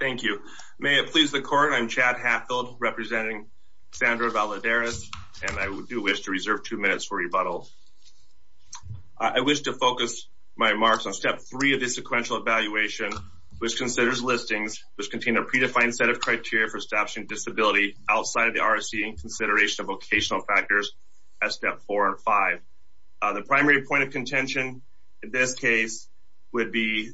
Thank you. May it please the court. I'm Chad Hatfield representing Sandra Valladares, and I do wish to reserve two minutes for rebuttal. I wish to focus my remarks on step three of the sequential evaluation, which considers listings, which contain a predefined set of criteria for establishing disability outside of the RSC in consideration of vocational factors as step four and five. The primary point of contention in this case would be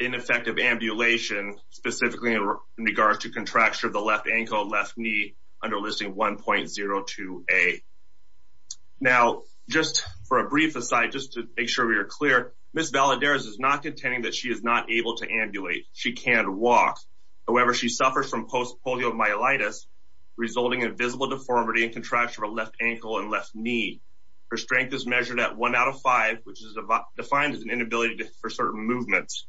ineffective ambulation, specifically in regards to contracture of the left ankle and left knee under listing 1.02A. Now, just for a brief aside, just to make sure we are clear, Ms. Valladares is not contending that she is not able to ambulate. She can't walk. However, she suffers from post-polio myelitis, resulting in visible deformity and contracture of her left ankle and left knee. Her strength is measured at one out of five, which is defined as an inability for certain movements.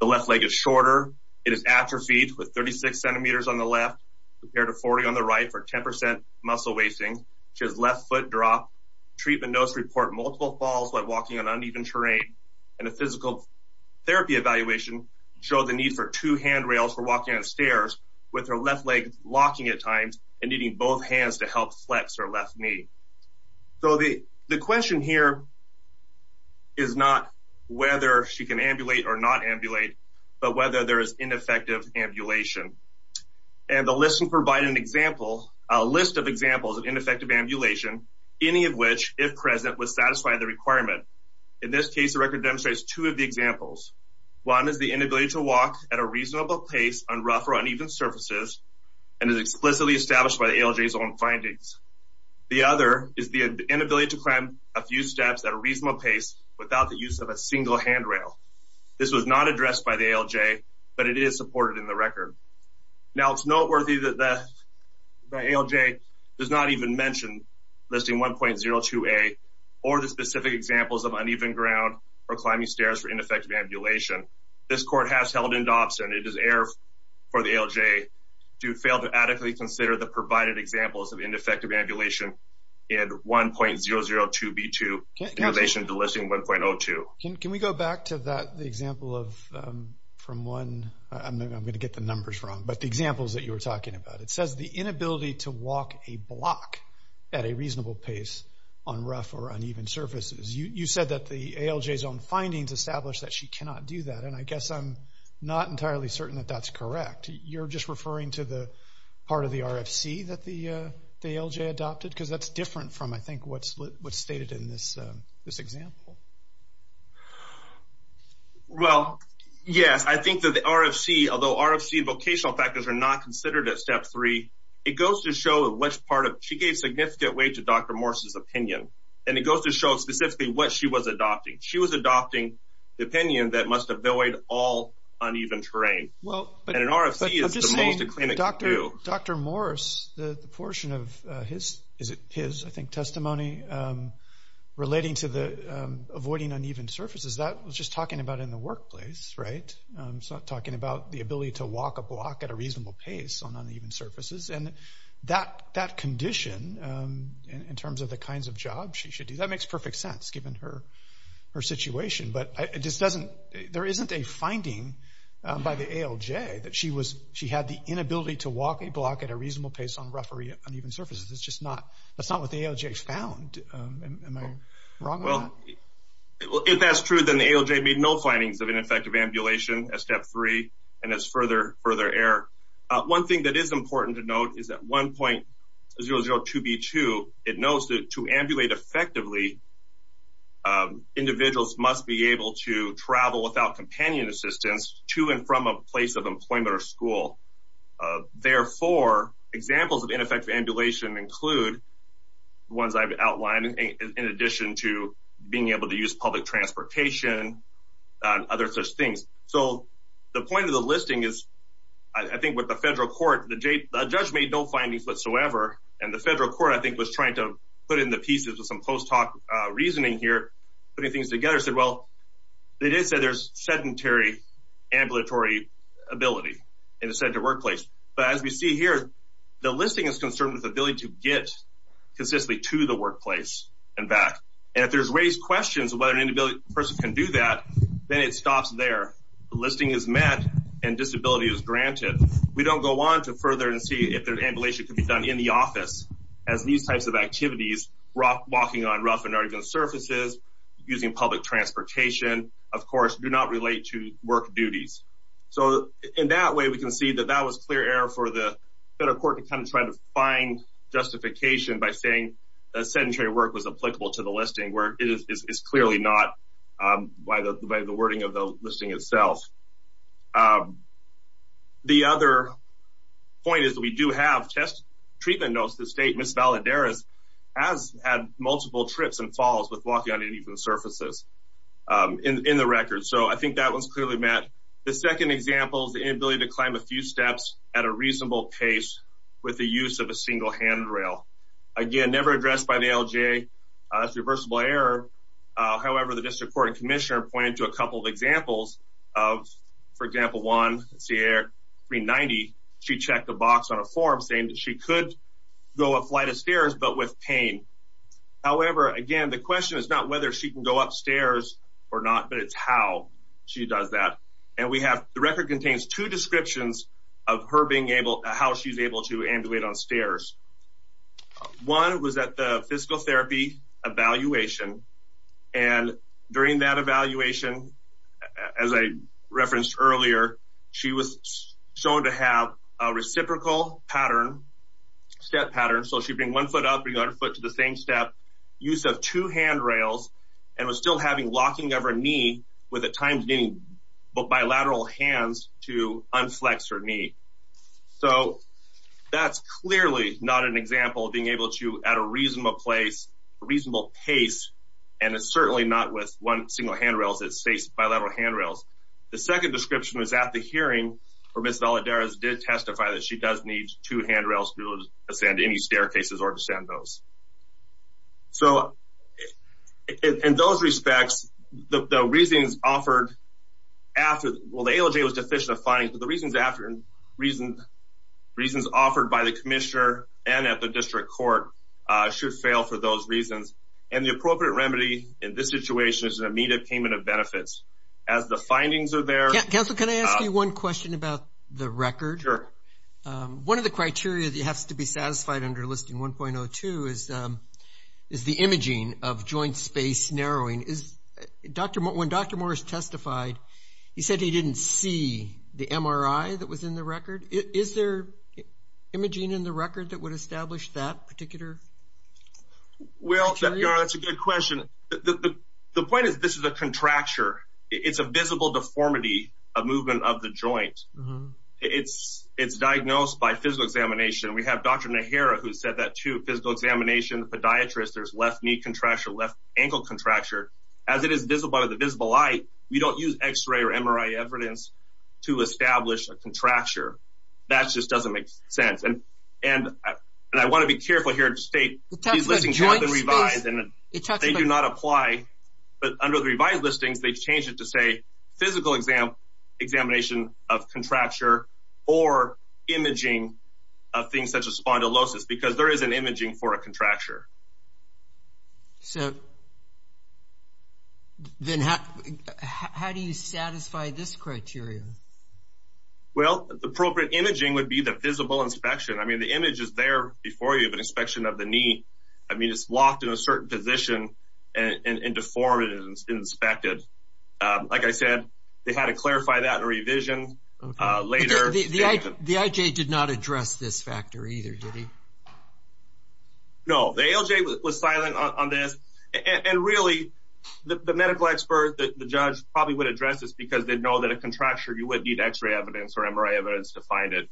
The left leg is shorter. It is atrophied with 36 centimeters on the left, compared to 40 on the right for 10% muscle wasting. She has left foot drop. Treatment notes report multiple falls while walking on uneven terrain, and a physical therapy evaluation show the need for two handrails for walking on stairs with her left leg locking at times and needing both hands to help flex her left knee. So the question here is not whether she can ambulate or not ambulate, but whether there is ineffective ambulation. And the listing provided an example, a list of examples of ineffective ambulation, any of which, if present, would satisfy the requirement. In this case, the record demonstrates two of the examples. One is the inability to walk at a reasonable pace on rough or uneven surfaces, and is explicitly established by the ALJ's own findings. The other is the inability to climb a few steps at a reasonable pace without the use of a single handrail. This was not addressed by the ALJ, but it is supported in the record. Now, it's noteworthy that the ALJ does not even mention listing 1.02a or the specific examples of uneven ground or climbing stairs for ineffective ambulation. This court has held in Dobson. It is error for the ALJ to fail to adequately consider the provided examples of ineffective ambulation and 1.002b2 in relation to listing 1.02. Can we go back to that, the example of, from one, I'm gonna get the numbers wrong, but the examples that you were talking about. It says the inability to walk a block at a reasonable pace on rough or uneven surfaces. You said that the ALJ's own findings established that she cannot do that, and I guess I'm not entirely certain that that's correct. You're just referring to the part of the RFC that the ALJ adopted? Because that's different from, I think, what's stated in this example. Well, yes, I think that the RFC, although RFC vocational factors are not considered at step three, it goes to show which part of, she gave significant weight to Dr. Morse's opinion, and it goes to show specifically what she was adopting. She was adopting the opinion that must avoid all uneven terrain. And an RFC is the most acclaimed to do. Dr. Morse, the portion of his, is it his, I think, testimony relating to avoiding uneven surfaces, that was just talking about in the workplace, right? It's not talking about the ability to walk a block at a reasonable pace on uneven surfaces, and that condition, in terms of the kinds of jobs she should do, that makes perfect sense, given her situation, but it just doesn't, there isn't a finding by the ALJ that she had the inability to walk a block at a reasonable pace on rough or uneven surfaces. It's just not, that's not what the ALJ has found. Am I wrong on that? Well, if that's true, then the ALJ made no findings of ineffective ambulation at step three, and that's further error. One thing that is important to note is that 1.002B2, it notes that to ambulate effectively, individuals must be able to travel without companion assistance to and from a place of employment or school. Therefore, examples of ineffective ambulation include the ones I've outlined, in addition to being able to use public transportation and other such things. So the point of the listing is, I think with the federal court, the judge made no findings whatsoever, and the federal court, I think, was trying to put in the pieces with some post hoc reasoning here, putting things together, said, well, they did say there's sedentary ambulatory ability in a sedentary workplace. But as we see here, the listing is concerned with the ability to get consistently to the workplace and back. And if there's raised questions of whether an inability person can do that, then it stops there. The listing is met, and disability is granted. We don't go on to further and see if there's ambulation can be done in the office, as these types of activities, walking on rough and arduous surfaces, using public transportation, of course, do not relate to work duties. So in that way, we can see that that was clear error for the federal court to kind of try to find justification by saying that sedentary work was applicable to the listing, where it is clearly not by the wording of the listing itself. The other point is that we do have test treatment notes that state Ms. Valadares has had multiple trips and falls with walking on uneven surfaces in the record. So I think that one's clearly met. The second example is the inability to climb a few steps at a reasonable pace with the use of a single handrail. Again, never addressed by the LGA as reversible error. However, the district court and commissioner pointed to a couple of examples of, for example, one, Sierra 390, she checked the box on a form saying that she could go a flight of stairs, but with pain. However, again, the question is not whether she can go upstairs or not, but it's how she does that. And we have, the record contains two descriptions of her being able, how she's able to ambulate on stairs. One was at the physical therapy evaluation. And during that evaluation, as I referenced earlier, she was shown to have a reciprocal pattern, step pattern. So she'd bring one foot up, bring the other foot to the same step, use of two handrails, and was still having locking of her knee with a timed knee, but bilateral hands to unflex her knee. So that's clearly not an example of being able to at a reasonable place, a reasonable pace. And it's certainly not with one single handrails, it's bilateral handrails. The second description was at the hearing where Ms. Valadares did testify that she does need two handrails to be able to ascend any staircases or descend those. So in those respects, the reasons offered after, well, the ALJ was deficient of findings, but the reasons offered by the commissioner and at the district court should fail for those reasons. And the appropriate remedy in this situation is an immediate payment of benefits as the findings are there. Council, can I ask you one question about the record? Sure. One of the criteria that has to be satisfied under Listing 1.02 is the imaging of joint space narrowing. When Dr. Morris testified, he said he didn't see the MRI that was in the record. Is there imaging in the record that would establish that particular criteria? Well, that's a good question. The point is this is a contracture. It's a visible deformity, a movement of the joint. It's diagnosed by physical examination. We have Dr. Nehera who said that too, physical examination, podiatrist, there's left knee contracture, left ankle contracture. As it is visible by the visible light, we don't use X-ray or MRI evidence to establish a contracture. That just doesn't make sense. And I wanna be careful here to state these listings have been revised, and they do not apply. But under the revised listings, they've changed it to say physical examination of contracture or imaging of things such as spondylosis because there is an imaging for a contracture. So then how do you satisfy this criteria? Well, the appropriate imaging would be the visible inspection. I mean, the image is there before you of an inspection of the knee. I mean, it's locked in a certain position and deformed and inspected. Like I said, they had to clarify that in revision later. The IJ did not address this factor either, did he? No, the ALJ was silent on this. And really, the medical expert, the judge probably would address this because they know that a contracture, you would need X-ray evidence or MRI evidence to find it.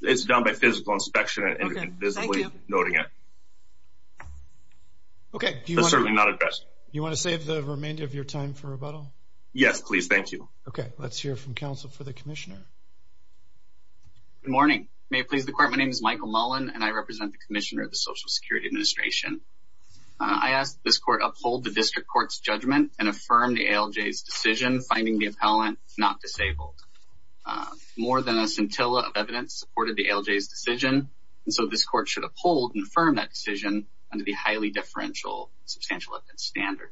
It's done by physical inspection and visibly noting it. Okay. That's certainly not addressed. You wanna save the remainder of your time for rebuttal? Yes, please, thank you. Okay, let's hear from counsel for the commissioner. Good morning. May it please the court, my name is Michael Mullen, and I represent the commissioner of the Social Security Administration. I ask that this court uphold the district court's judgment finding the appellant not disabled. More than a scintilla of evidence supported the ALJ's decision. And so this court should uphold and affirm that decision under the highly differential substantial evidence standard.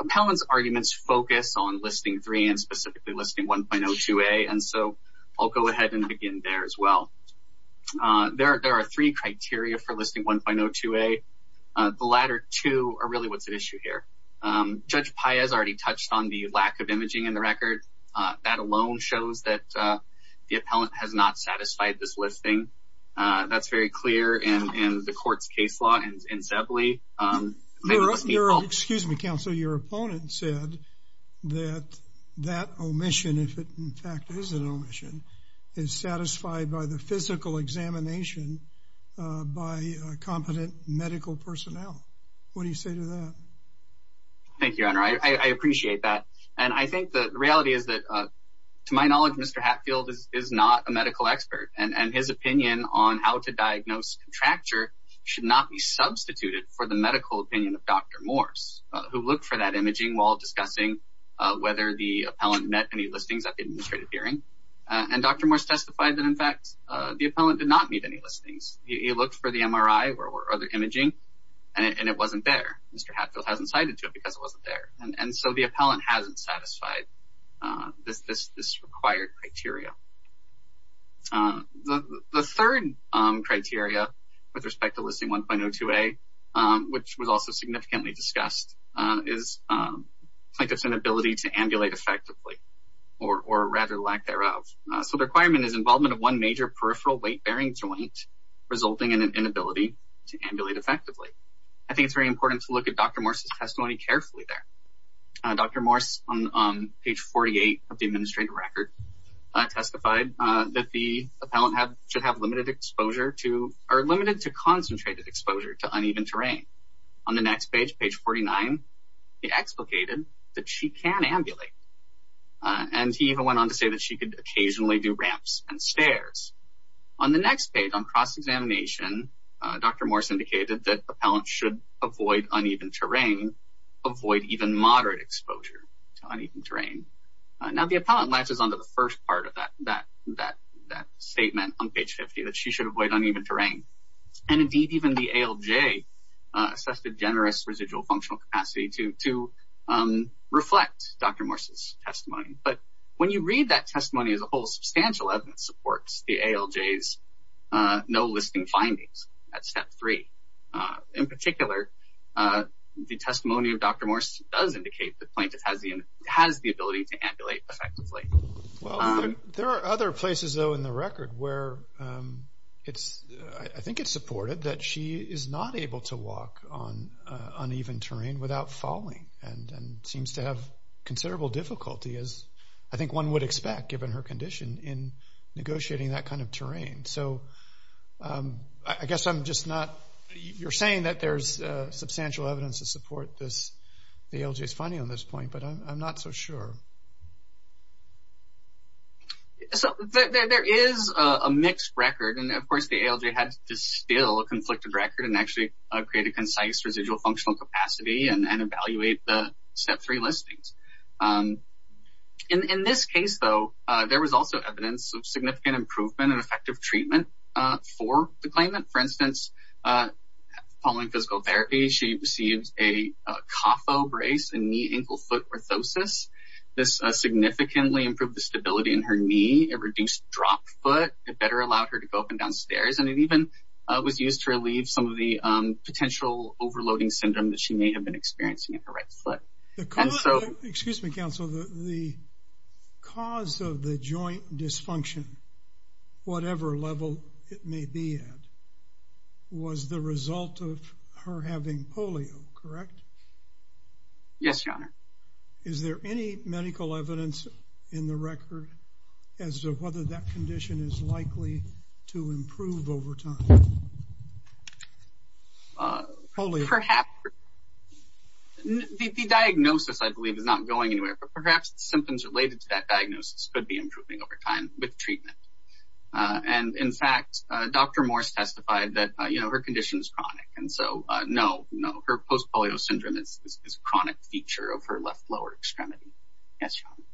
Appellant's arguments focus on Listing 3 and specifically Listing 1.02a. And so I'll go ahead and begin there as well. There are three criteria for Listing 1.02a. The latter two are really what's at issue here. Judge Paez already touched on the lack of imaging in the record. That alone shows that the appellant has not satisfied this listing. That's very clear in the court's case law in Zebley. Excuse me, counsel. Your opponent said that that omission, if it in fact is an omission, is satisfied by the physical examination by competent medical personnel. What do you say to that? Thank you, Honor. I appreciate that. And I think the reality is that, to my knowledge, Mr. Hatfield is not a medical expert. And his opinion on how to diagnose contracture should not be substituted for the medical opinion of Dr. Morse, who looked for that imaging while discussing whether the appellant met any listings at the administrative hearing. And Dr. Morse testified that in fact, the appellant did not meet any listings. He looked for the MRI or other imaging, and it wasn't there. Mr. Hatfield hasn't cited to it because it wasn't there. And so the appellant hasn't satisfied this required criteria. The third criteria with respect to listing 1.02a, which was also significantly discussed, is plaintiff's inability to ambulate effectively, or rather lack thereof. So the requirement is involvement of one major peripheral weight-bearing joint resulting in an inability to ambulate effectively. I think it's very important to look at Dr. Morse's testimony carefully there. Dr. Morse, on page 48 of the administrative record, testified that the appellant should have limited exposure to, or limited to concentrated exposure to uneven terrain. On the next page, page 49, he explicated that she can ambulate. And he even went on to say that she could occasionally do ramps and stairs. On the next page, on cross-examination, Dr. Morse indicated that appellants should avoid uneven terrain, avoid even moderate exposure to uneven terrain. Now, the appellant latches onto the first part of that statement on page 50, that she should avoid uneven terrain. And indeed, even the ALJ assessed a generous residual functional capacity to reflect Dr. Morse's testimony. But when you read that testimony as a whole, substantial evidence supports the ALJ's no listing findings at step three. In particular, the testimony of Dr. Morse does indicate the plaintiff has the ability to ambulate effectively. Well, there are other places though in the record where it's, I think it's supported that she is not able to walk on uneven terrain without falling and seems to have considerable difficulty in negotiating that kind of terrain. So, I guess I'm just not, you're saying that there's substantial evidence to support this, the ALJ's finding on this point, but I'm not so sure. So, there is a mixed record, and of course the ALJ had to distill a conflicted record and actually create a concise residual functional capacity and evaluate the step three listings. In this case though, there was also evidence of significant improvement and effective treatment for the claimant. For instance, following physical therapy, she received a COFO brace, a knee ankle foot orthosis. This significantly improved the stability in her knee, it reduced drop foot, it better allowed her to go up and down stairs, and it even was used to relieve some of the potential overloading syndrome that she may have been experiencing in her right foot. And so- Excuse me, counsel. The cause of the joint dysfunction, whatever level it may be at, was the result of her having polio, correct? Yes, your honor. Is there any medical evidence in the record as to whether that condition is likely to improve over time? Polio. Perhaps, the diagnosis I believe is not going anywhere, but perhaps the symptoms related to that diagnosis could be improving over time with treatment. And in fact, Dr. Morse testified that her condition is chronic. And so, no, no, her post-polio syndrome is a chronic feature of her left lower extremity. Yes, your honor.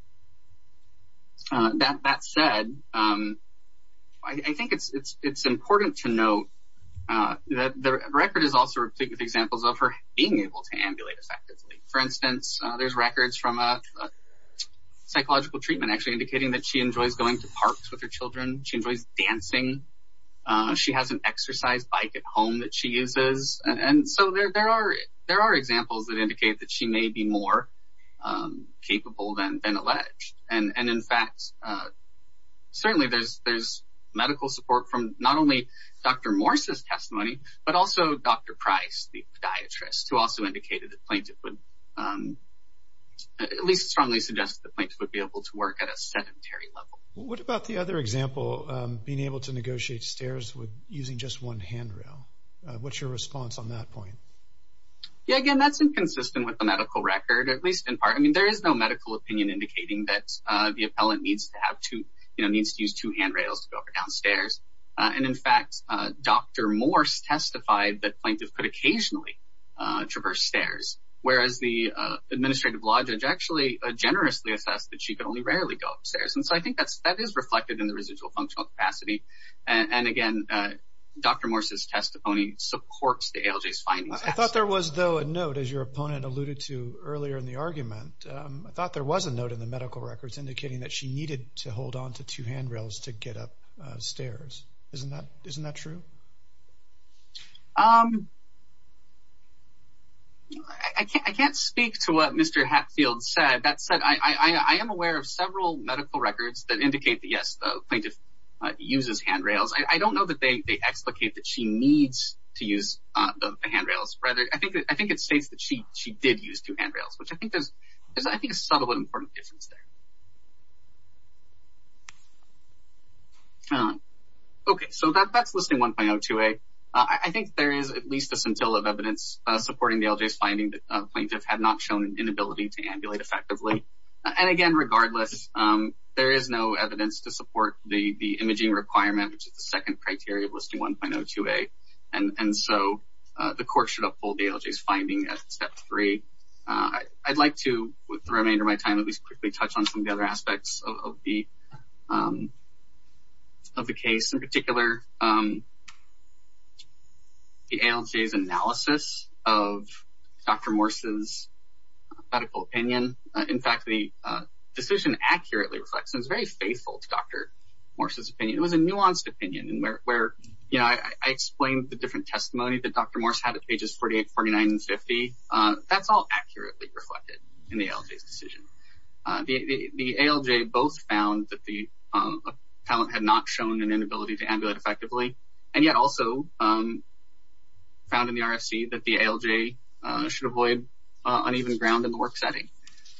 That said, I think it's important to note that the record is also replete with examples of her being able to ambulate effectively. For instance, there's records from a psychological treatment actually indicating that she enjoys going to parks with her children. She enjoys dancing. She has an exercise bike at home that she uses. And so, there are examples that indicate that she may be more capable than alleged. And in fact, certainly there's medical support from not only Dr. Morse's testimony, but also Dr. Price, the podiatrist, who also indicated that plaintiff would, at least strongly suggest that plaintiff would be able to work at a sedentary level. What about the other example, being able to negotiate stairs using just one handrail? What's your response on that point? Yeah, again, that's inconsistent with the medical record, at least in part. I mean, there is no medical opinion indicating that the appellant needs to have two, needs to use two handrails to go up and down stairs. And in fact, Dr. Morse testified that plaintiff could occasionally traverse stairs, whereas the administrative law judge actually generously assessed that she could only rarely go upstairs. And so, I think that is reflected in the residual functional capacity. And again, Dr. Morse's testimony supports the ALJ's findings. I thought there was, though, a note, as your opponent alluded to earlier in the argument, I thought there was a note in the medical records indicating that she needed to hold onto two handrails to get up stairs. Isn't that true? I can't speak to what Mr. Hatfield said. That said, I am aware of several medical records that indicate that, yes, the plaintiff uses handrails. I don't know that they explicate that she needs to use the handrails. Rather, I think it states that she did use two handrails, which I think there's a subtle but important difference there. Okay, so that's Listing 1.02a. I think there is at least a scintilla of evidence supporting the ALJ's finding that the plaintiff had not shown an inability to ambulate effectively. And again, regardless, there is no evidence to support the imaging requirement, which is the second criteria of Listing 1.02a. And so, the court should uphold the ALJ's finding at step three. I'd like to, with the remainder of my time, at least quickly touch on some of the other aspects of the case, in particular, the ALJ's analysis of Dr. Morse's medical opinion. In fact, the decision accurately reflects, and it's very faithful to Dr. Morse's opinion. It was a nuanced opinion, where I explained the different testimony that Dr. Morse had at pages 48, 49, and 50. That's all accurately reflected in the ALJ's decision. The ALJ both found that the appellant had not shown an inability to ambulate effectively, and yet also found in the RFC that the ALJ should avoid uneven ground in the work setting.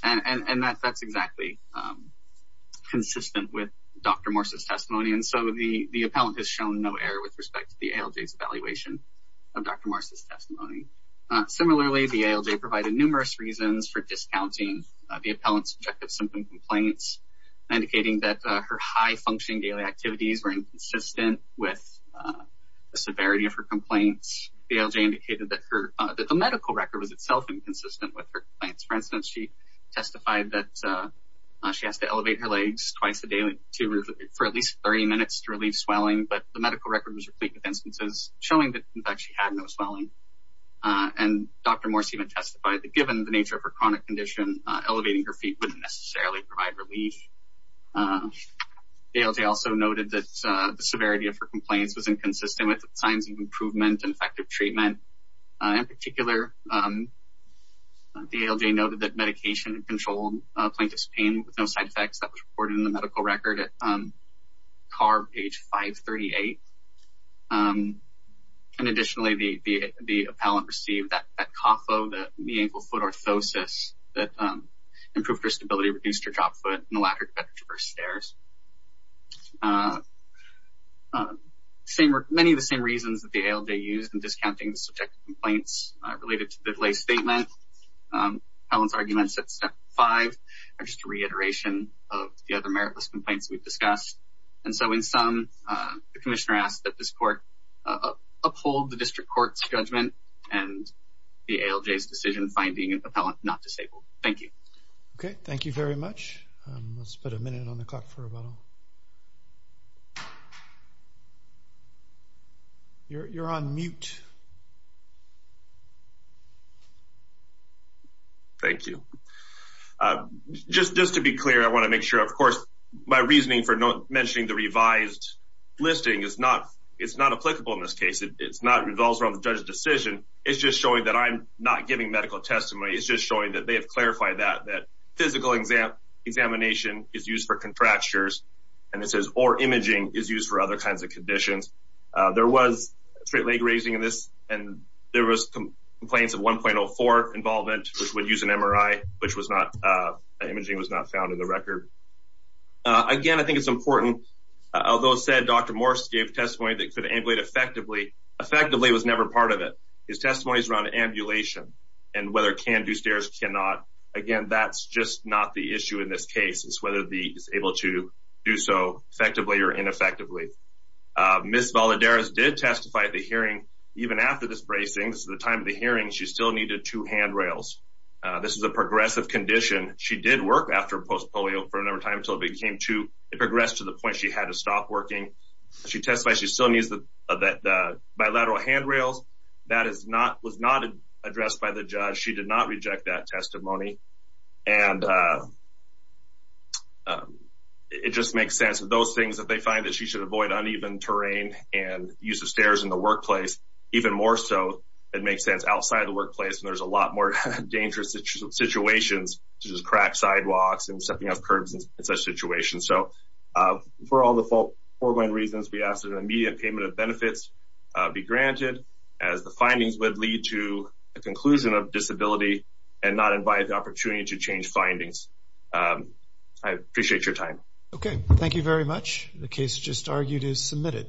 And that's exactly consistent with Dr. Morse's testimony. And so, the appellant has shown no error of Dr. Morse's testimony. Similarly, the ALJ provided numerous reasons for discounting the appellant's objective symptom complaints, indicating that her high-functioning daily activities were inconsistent with the severity of her complaints. The ALJ indicated that the medical record was itself inconsistent with her complaints. For instance, she testified that she has to elevate her legs twice a day for at least 30 minutes to relieve swelling, but the medical record was replete with instances showing that, in fact, she had no swelling. And Dr. Morse even testified that given the nature of her chronic condition, elevating her feet wouldn't necessarily provide relief. The ALJ also noted that the severity of her complaints was inconsistent with signs of improvement and effective treatment. In particular, the ALJ noted that medication controlled plaintiff's pain with no side effects. That was reported in the medical record at CARB page 538. And additionally, the appellant received that CAFO, that knee-ankle-foot orthosis, that improved her stability, reduced her drop foot, and the latter to better traverse stairs. Many of the same reasons that the ALJ used in discounting the subjective complaints related to the lay statement. Appellant's arguments at step five are just a reiteration of the other meritless complaints we've discussed. And so in sum, the commissioner asked that this court uphold the district court's judgment and the ALJ's decision-finding of appellant not disabled. Thank you. Okay, thank you very much. Let's put a minute on the clock for rebuttal. You're on mute. Thank you. Just to be clear, I wanna make sure, of course, my reasoning for mentioning the revised listing is not applicable in this case. It's not, it revolves around the judge's decision. It's just showing that I'm not giving medical testimony. It's just showing that they have clarified that, that physical examination is used for contractures, and it says, or imaging is used for other kinds of conditions. There was a straight leg raising in this, and there was complaints of 1.04 involvement, which would use an MRI, which was not, imaging was not found in the record. Again, I think it's important. Although it said Dr. Morris gave testimony that could ambulate effectively, effectively was never part of it. His testimony's around ambulation, and whether it can do stairs, cannot. Again, that's just not the issue in this case, is whether it's able to do so effectively or ineffectively. Ms. Valadares did testify at the hearing, even after this bracing, this is the time of the hearing, she still needed two handrails. This is a progressive condition. She did work after post-polio for a number of times until it progressed to the point she had to stop working. She testified she still needs the bilateral handrails. That was not addressed by the judge. She did not reject that testimony. And it just makes sense that those things, that they find that she should avoid uneven terrain and use of stairs in the workplace. Even more so, it makes sense outside of the workplace, and there's a lot more dangerous situations, such as cracked sidewalks, and stepping on curbs, in such situations. So, for all the foregoing reasons, we ask that an immediate payment of benefits be granted, as the findings would lead to a conclusion of disability, and not invite the opportunity to change findings. I appreciate your time. Okay, thank you very much. The case just argued is submitted.